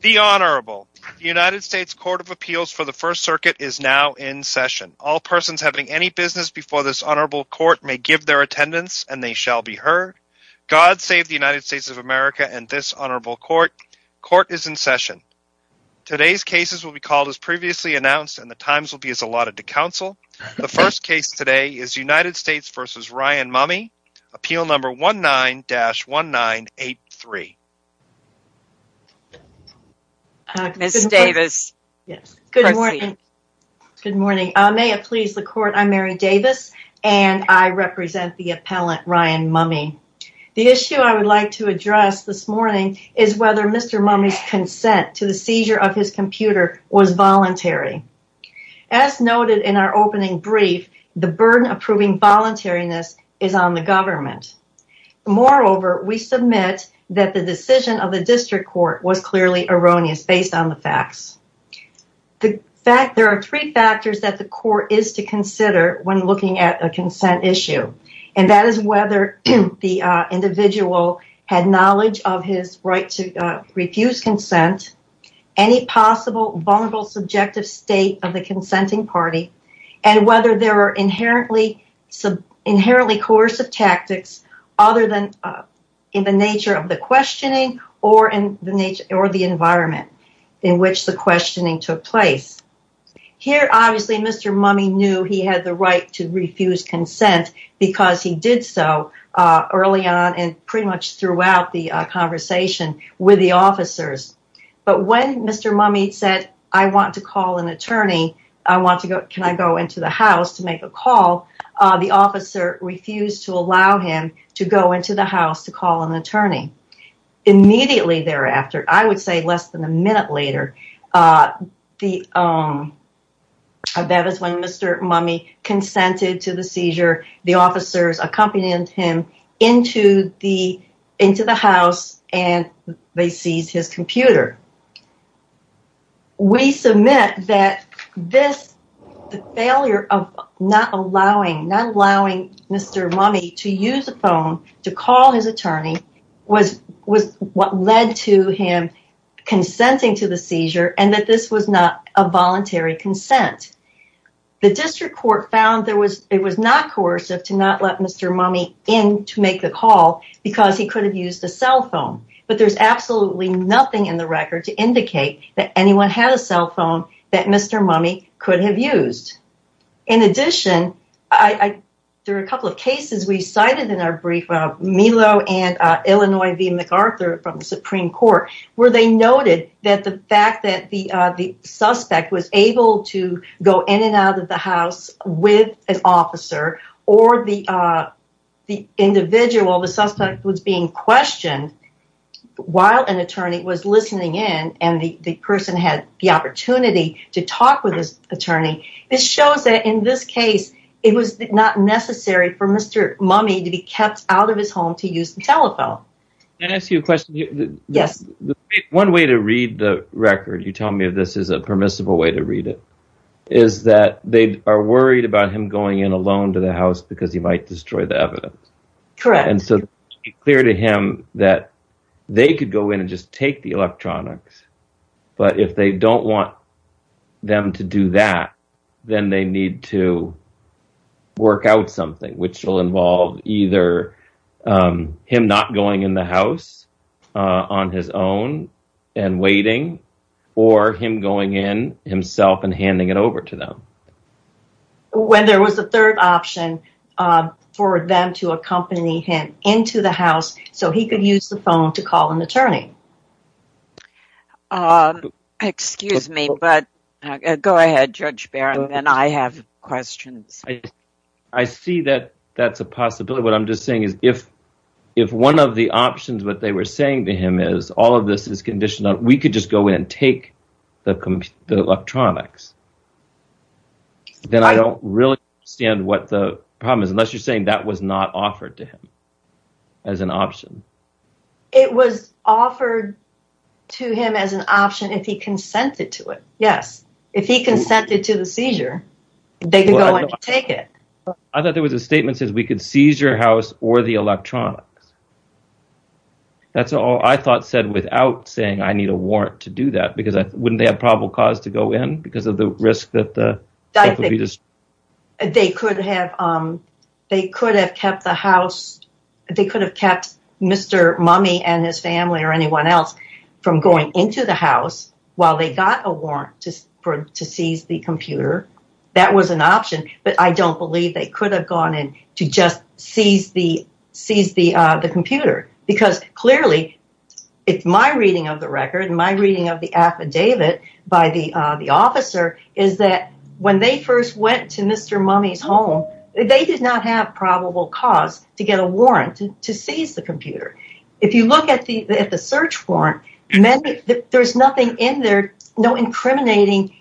The Honorable. The United States Court of Appeals for the First Circuit is now in session. All persons having any business before this Honorable Court may give their attendance, and they shall be heard. God save the United States of America and this Honorable Court. Court is in session. Today's cases will be called as previously announced, and the times will be as allotted to counsel. The first case today is United States v. Ryan Mumme, appeal number 19-1983. Mary Davis Good morning. May it please the Court, I'm Mary Davis, and I represent the appellant, Ryan Mumme. The issue I would like to address this morning is whether Mr. Mumme's consent to the seizure of his computer was voluntary. As noted in our opening brief, the burden of proving voluntariness is on the government. Moreover, we submit that the decision of the District Court was clearly erroneous based on the facts. There are three factors that the Court is to consider when looking at a consent issue, and that is whether the individual had knowledge of his right to refuse consent, any possible vulnerable subjective state of the consenting party, and whether there are inherently coercive tactics other than in nature of the questioning or the environment in which the questioning took place. Here, obviously, Mr. Mumme knew he had the right to refuse consent because he did so early on and pretty much throughout the conversation with the officers. But when Mr. Mumme said, I want to call an attorney, can I go into the house to make a call, the officer refused to go into the house to call an attorney. Immediately thereafter, I would say less than a minute later, that is when Mr. Mumme consented to the seizure. The officers accompanied him into the house, and they seized his computer. We submit that this, the failure of not allowing Mr. Mumme to use the phone to call his attorney was what led to him consenting to the seizure, and that this was not a voluntary consent. The District Court found it was not coercive to not let Mr. Mumme in to make the call because he could have used a cell phone. But there is absolutely nothing in the record to indicate that anyone had a cell phone that Mr. Mumme could have used. In addition, there are a couple of cases we cited in our brief, Milo and Illinois v. McArthur from the Supreme Court, where they noted that the fact that the suspect was able to go in and out of the house with an officer or the individual, the suspect was being questioned while an attorney was listening in and the person had the opportunity to talk with his attorney. This shows that in this case, it was not necessary for Mr. Mumme to be kept out of his home to use the telephone. One way to read the record, you tell me if this is a permissible way to read it, is that they are worried about him going in alone to the house because he might destroy the evidence. So, it's clear to him that they could go in and just take the electronics, but if they don't want them to do that, then they need to work out something which will involve either him not going in the house on his own and waiting or him going in himself and handing it to an attorney to accompany him into the house so he could use the phone to call an attorney. Excuse me, but go ahead, Judge Barron, then I have questions. I see that that's a possibility. What I'm just saying is if one of the options that they were saying to him is all of this is conditional, we could just go in and take the electronics, then I don't really understand what the problem is, unless you're saying that was not offered to him as an option. It was offered to him as an option if he consented to it. Yes, if he consented to the seizure, they can go and take it. I thought there was a statement that says we could seize your house or the electronics. That's all I thought said without saying I need a warrant to do that because wouldn't they have probable cause to go in because of the risk that they could have kept the house. They could have kept Mr. Mummy and his family or anyone else from going into the house while they got a warrant to seize the computer. That was an option, but I don't believe they could have gone in to just seize the computer because clearly, it's my reading of the record and my reading of the affidavit by the officer is that when they first went to Mr. Mummy's home, they did not have probable cause to get a warrant to seize the computer. If you look at the search warrant, there's nothing in there, no incriminating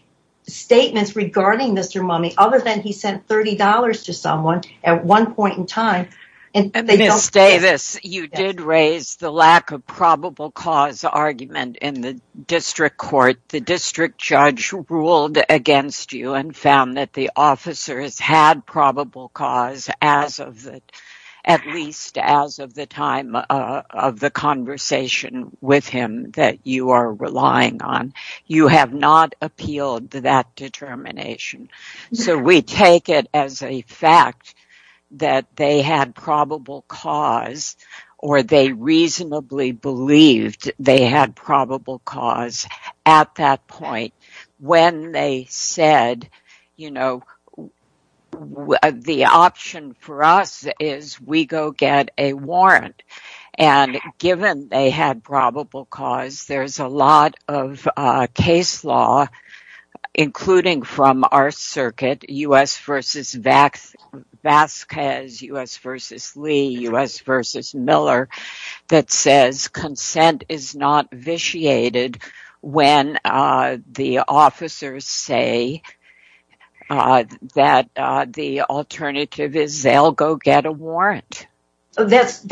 statements regarding Mr. Mummy other than he sent $30 to someone at one point in time. Ms. Davis, you did raise the lack of probable cause argument in the district court. The district judge ruled against you and found that the officers had probable cause at least as of the time of the conversation with him that you are relying on. You have not appealed to that determination. We take it as a fact that they had probable cause or they reasonably believed they had probable cause at that point when they said, the option for us is we go get a warrant. And given they had probable cause, there's a lot of case law, including from our circuit, U.S. versus Vasquez, U.S. versus Lee, U.S. versus Miller, that says consent is not vitiated when the officers say that the alternative is they'll go get a warrant. That's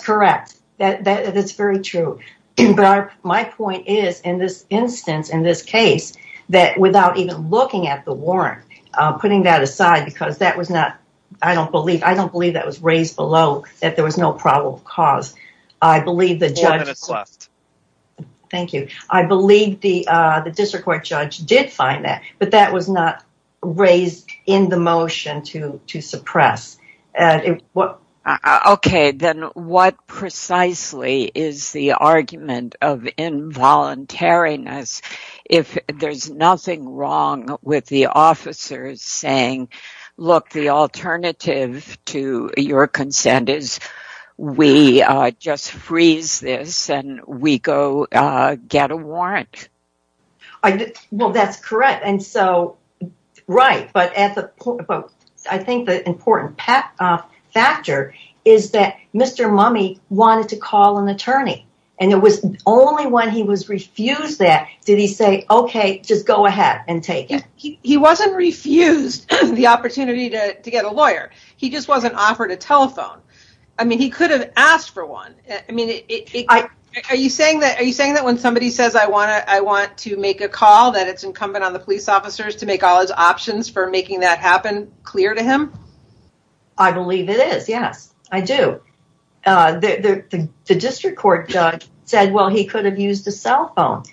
correct. That's very true. But my point is in this instance, in this case, that without even looking at the warrant, putting that aside because that was not, I don't believe, I don't believe that was raised below that there was no probable cause. Thank you. I believe the district court judge did find that, but that was not raised in the motion to suppress. Okay. Then what precisely is the argument of involuntariness if there's nothing wrong with the officers saying, look, the alternative to your consent is we just freeze this and we go get a warrant? That's correct. I think the important factor is that Mr. Mummey wanted to call an attorney and it was only when he was refused that did he say, okay, just go ahead and take it. He wasn't refused the opportunity to get a lawyer. He just wasn't Are you saying that when somebody says I want to make a call that it's incumbent on the police officers to make all his options for making that happen clear to him? I believe it is. Yes, I do. The district court judge said, well, he could have used a cell phone.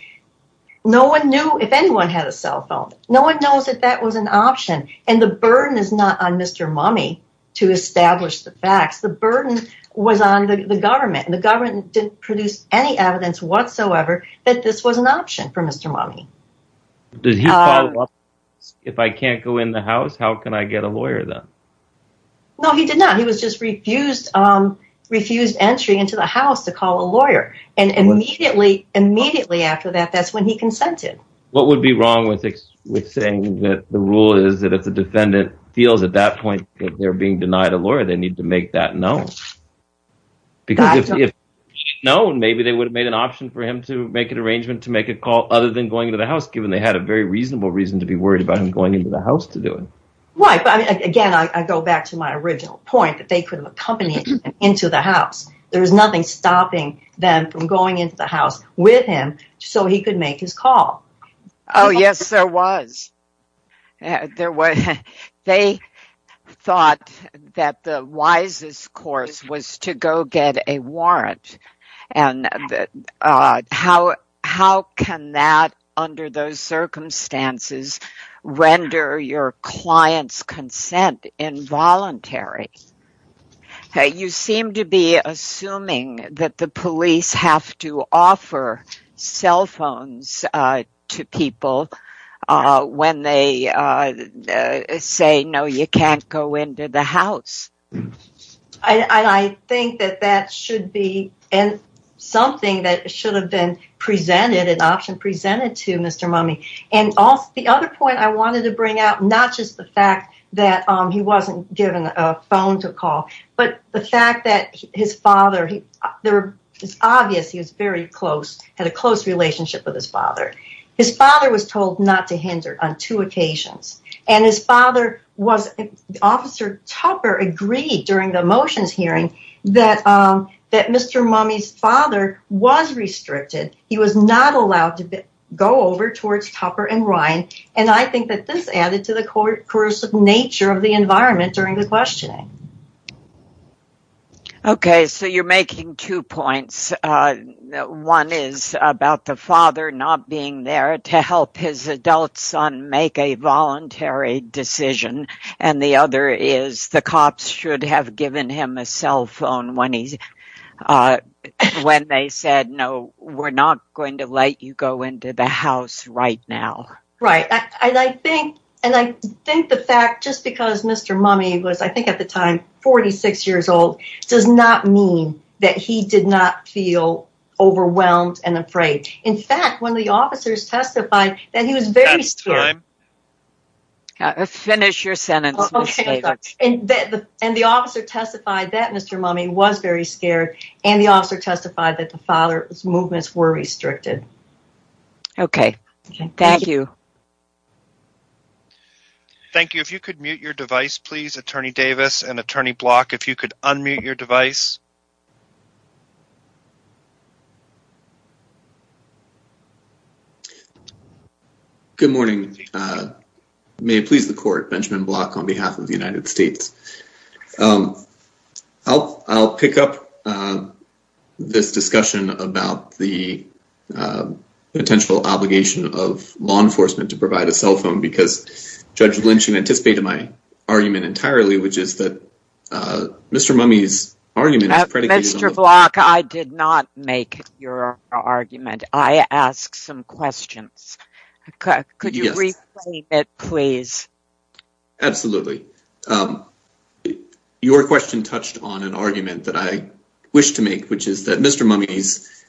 No one knew if anyone had a cell phone. No one knows that that was an option. And the burden is not on Mr. Mummey to establish the facts. The burden was on the government and the government didn't produce any evidence whatsoever that this was an option for Mr. Mummey. If I can't go in the house, how can I get a lawyer then? No, he did not. He was just refused entry into the house to call a lawyer. And immediately after that, that's when he consented. What would be wrong with saying that the rule is that if the lawyer, they need to make that known? Because if known, maybe they would have made an option for him to make an arrangement to make a call other than going into the house, given they had a very reasonable reason to be worried about him going into the house to do it. Right. But again, I go back to my original point that they could have accompanied him into the house. There was nothing stopping them from going into the house with him so he could make his call. Oh, yes, there was. There was. They thought that the wisest course was to go get a warrant. And how can that, under those circumstances, render your client's consent involuntary? You seem to be assuming that the police have to offer cell phones to people when they say, no, you can't go into the house. I think that that should be something that should have been presented, an option presented to Mr. Mummy. And the other point I wanted to bring out, not just the fact that he wasn't given a phone to call, but the fact that his father, it's obvious he was very close, had a close relationship with his father. His father was told not to hinder on two occasions. And his father, Officer Tupper agreed during the motions hearing that Mr. Mummy's father was restricted. He was not allowed to go over towards Tupper and Ryan. And I think that this added to the coercive nature of the environment during the questioning. Okay, so you're making two points. One is about the father not being there to help his adult son make a voluntary decision. And the other is the cops should have given him a cell phone when they said, no, we're not going to let you go into the Mr. Mummy was I think at the time, 46 years old, does not mean that he did not feel overwhelmed and afraid. In fact, when the officers testified that he was very scared. Finish your sentence. And the officer testified that Mr. Mummy was very scared. And the officer testified that the father's movements were restricted. Okay. Thank you. Thank you. If you could mute your device, please, Attorney Davis and Attorney Block, if you could unmute your device. Good morning. May it please the court, Benjamin Block on behalf of the United States. I'll pick up this discussion about the potential obligation of law enforcement to provide a cell phone because Judge Lynch anticipated my argument entirely, which is that Mr. Mummy's argument Mr. Block, I did not make your argument. I asked some questions. Could you replay it, please? Absolutely. Your question touched on an argument that I wish to make, which is that Mr. Mummy's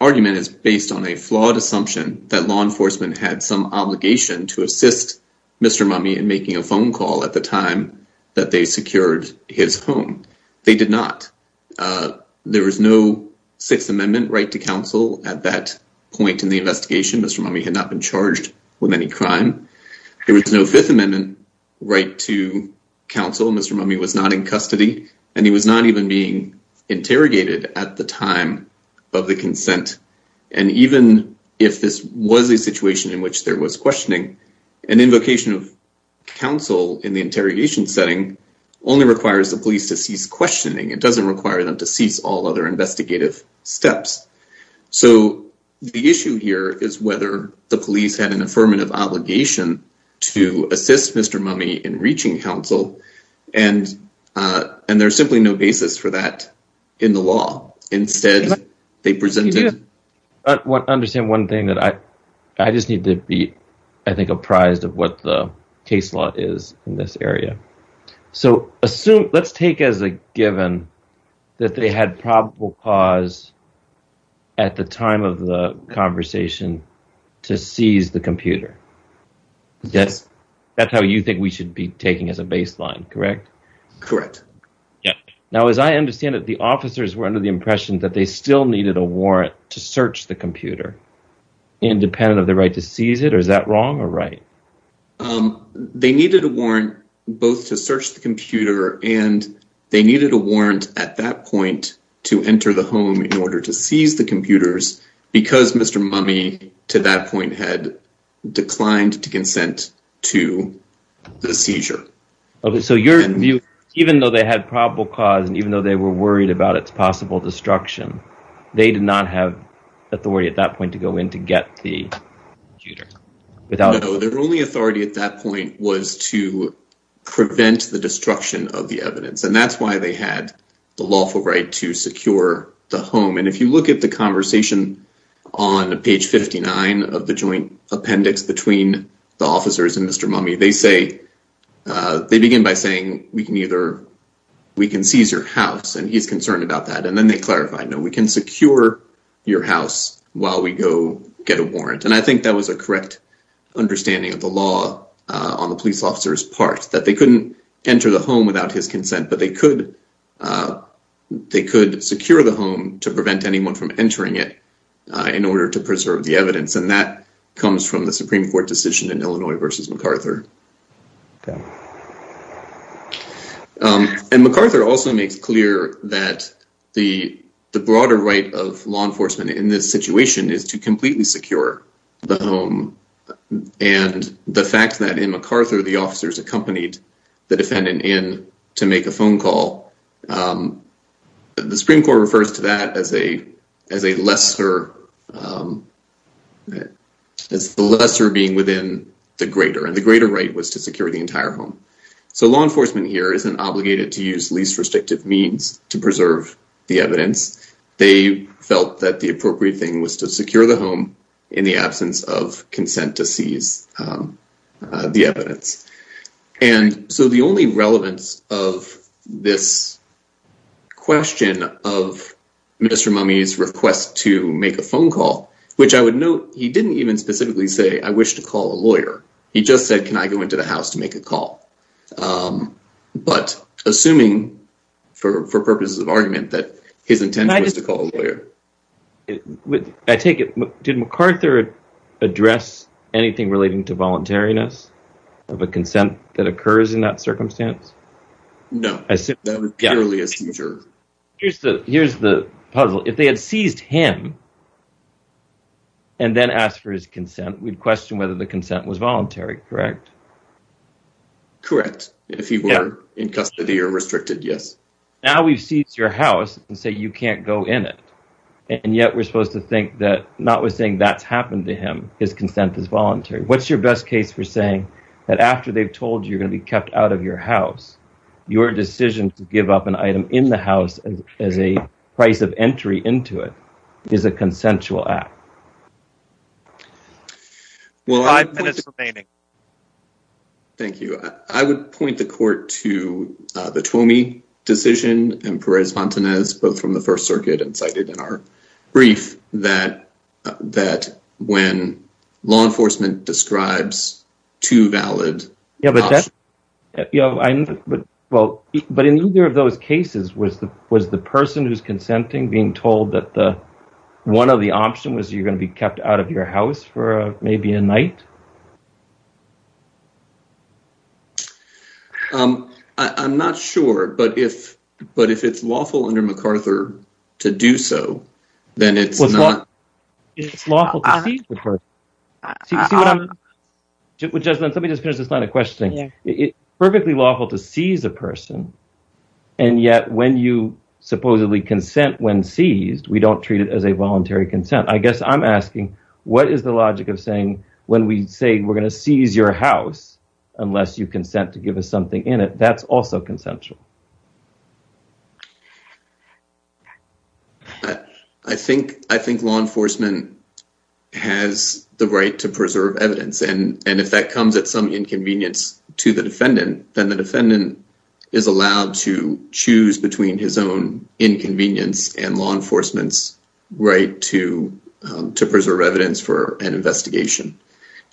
argument is based on a flawed assumption that law enforcement had some obligation to assist Mr. Mummy in making a phone call at the time that they secured his home. They did not. There was no Sixth Amendment right to counsel at that point in the investigation. Mr. Mummy had not been charged with any crime. There was no Fifth Amendment right to counsel. Mr. Mummy was not in custody, and he was not even being interrogated at the time of the consent. And even if this was a situation in which there was questioning, an invocation of counsel in the all other investigative steps. So the issue here is whether the police had an affirmative obligation to assist Mr. Mummy in reaching counsel, and there's simply no basis for that in the law. Instead, they presented... I just need to be, I think, apprised of what the case law is in this that they had probable cause at the time of the conversation to seize the computer. Yes. That's how you think we should be taking as a baseline, correct? Correct. Yeah. Now, as I understand it, the officers were under the impression that they still needed a warrant to search the computer, independent of the right to seize it, or is that wrong or right? Um, they needed a warrant both to search the computer and they needed a warrant at that point to enter the home in order to seize the computers because Mr. Mummy to that point had declined to consent to the seizure. Okay. So your view, even though they had probable cause, and even though they were worried about its possible destruction, they did not have authority at that point to go in to get the computer. No, their only authority at that point was to prevent the destruction of the evidence, and that's why they had the lawful right to secure the home. And if you look at the conversation on page 59 of the joint appendix between the officers and Mr. Mummy, they say, they begin by saying, we can either, we can seize your house, and he's concerned about that, and then they clarify, no, we can secure your house while we go get a warrant. And I think that was a correct understanding of the law on the police officer's part, that they couldn't enter the home without his consent, but they could secure the home to prevent anyone from entering it in order to preserve the evidence. And that comes from the that the broader right of law enforcement in this situation is to completely secure the home, and the fact that in MacArthur, the officers accompanied the defendant in to make a phone call, the Supreme Court refers to that as the lesser being within the greater, and the greater right was to secure the entire home. So law enforcement here isn't obligated to use least restrictive means to preserve the evidence. They felt that the appropriate thing was to secure the home in the absence of consent to seize the evidence. And so the only relevance of this question of Mr. Mummy's request to make a phone call, which I would note, he didn't even specifically say, I wish to call a lawyer. He just said, can I go into the house to make a call? But assuming for purposes of argument that his intention was to call a lawyer. I take it, did MacArthur address anything relating to voluntariness of a consent that occurs in that circumstance? No, that was purely a seizure. Here's the puzzle. If they had seized him and then asked for his consent, we'd question whether the consent was correct. If he were in custody or restricted, yes. Now we've seized your house and say you can't go in it. And yet we're supposed to think that not with saying that's happened to him, his consent is voluntary. What's your best case for saying that after they've told you're going to be kept out of your house, your decision to give up an item in the house as a price of entry into it is a consensual act? Five minutes remaining. Thank you. I would point the court to the Twomey decision and Perez-Montanez, both from the first circuit and cited in our brief, that when law enforcement describes two valid options. But in either of those cases, was the person who's consenting being told that one of the options was you're going to be kept out of your house for maybe a night? I'm not sure, but if it's lawful under MacArthur to do so, then it's not. It's lawful to seize the person. Let me just finish this line of questioning. It's perfectly lawful to seize a person. And yet when you supposedly consent when seized, we don't treat it as a voluntary consent. I guess I'm asking, what is the logic of saying when we say we're going to seize your house, unless you consent to give us something in it, that's also consensual? I think law enforcement has the right to preserve evidence. And if that comes at some inconvenience to the defendant, then the defendant is allowed to choose between his own inconvenience and law enforcement's right to preserve evidence for an investigation.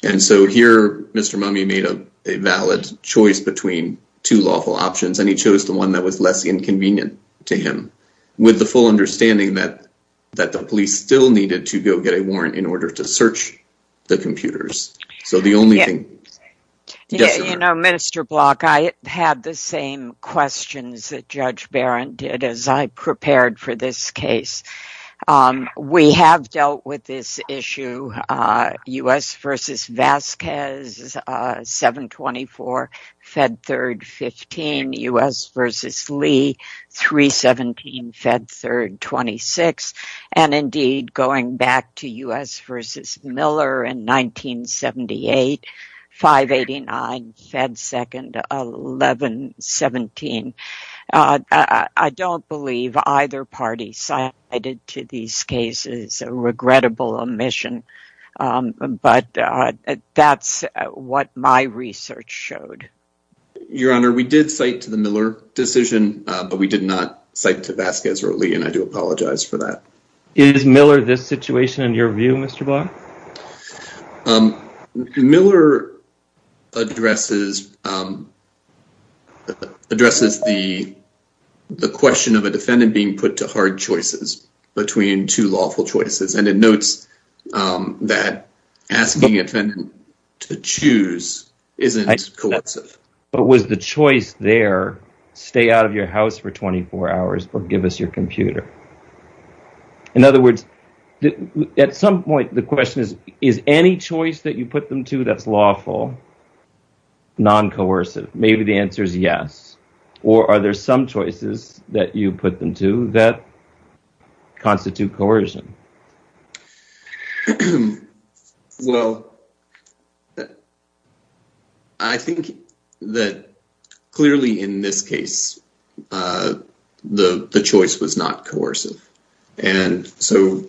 And so here, Mr. Mummey made a choice between two lawful options, and he chose the one that was less inconvenient to him, with the full understanding that the police still needed to go get a warrant in order to search the computers. So the only thing... Minister Block, I had the same questions that Judge Barron did as I prepared for this case. We have dealt with this issue, U.S. v. Vasquez, 7-24, Fed Third, 15, U.S. v. Lee, 3-17, Fed Third, 26, and indeed going back to U.S. v. Miller in 1978, 5-89, Fed Second, 11-17. I don't believe either party cited to these cases a regrettable omission, but that's what my research showed. Your Honor, we did cite to the Miller decision, but we did not cite to Vasquez or Lee, and I do apologize for that. Is Miller this situation in your view, Mr. Block? No. Miller addresses the question of a defendant being put to hard choices between two lawful choices, and it notes that asking a defendant to choose isn't coercive. But was the choice there, stay out of your house for 24 hours or give us your computer? In other words, at some point, the question is, is any choice that you put them to that's lawful non-coercive? Maybe the answer is yes. Or are there some choices that you put them to that constitute coercion? Well, I think that clearly in this case, the choice was not coercive. And so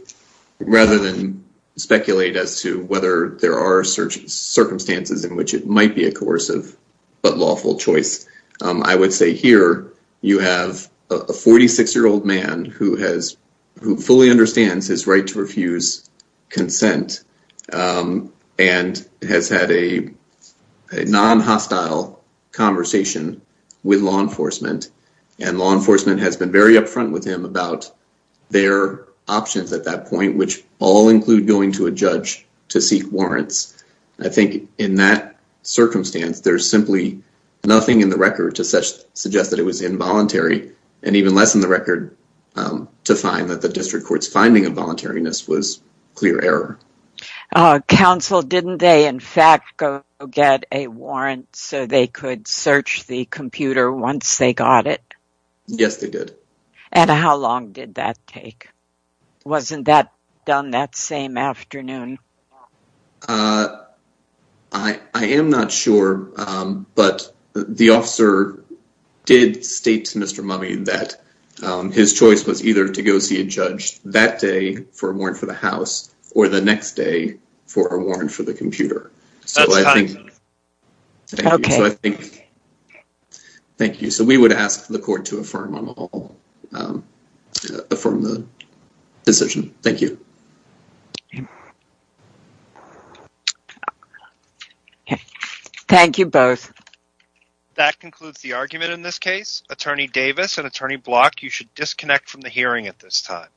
rather than speculate as to whether there are circumstances in which it might be a coercive but lawful choice, I would say here you have a 46-year-old man who fully understands his right to refuse consent and has had a non-hostile conversation with law enforcement. And law enforcement has been very upfront with him about their options at that point, which all include going to a judge to seek warrants. I think in that circumstance, there's simply nothing in the record to suggest that it was involuntary and even less in the record to find that the was clear error. Counsel, didn't they, in fact, go get a warrant so they could search the computer once they got it? Yes, they did. And how long did that take? Wasn't that done that same afternoon? I am not sure, but the officer did state to Mr. Mummey that his choice was either to go see a house or the next day for a warrant for the computer. So I think, thank you. So we would ask the court to affirm the decision. Thank you. Thank you both. That concludes the argument in this case. Attorney Davis and Attorney Block, you should disconnect from the hearing at this time.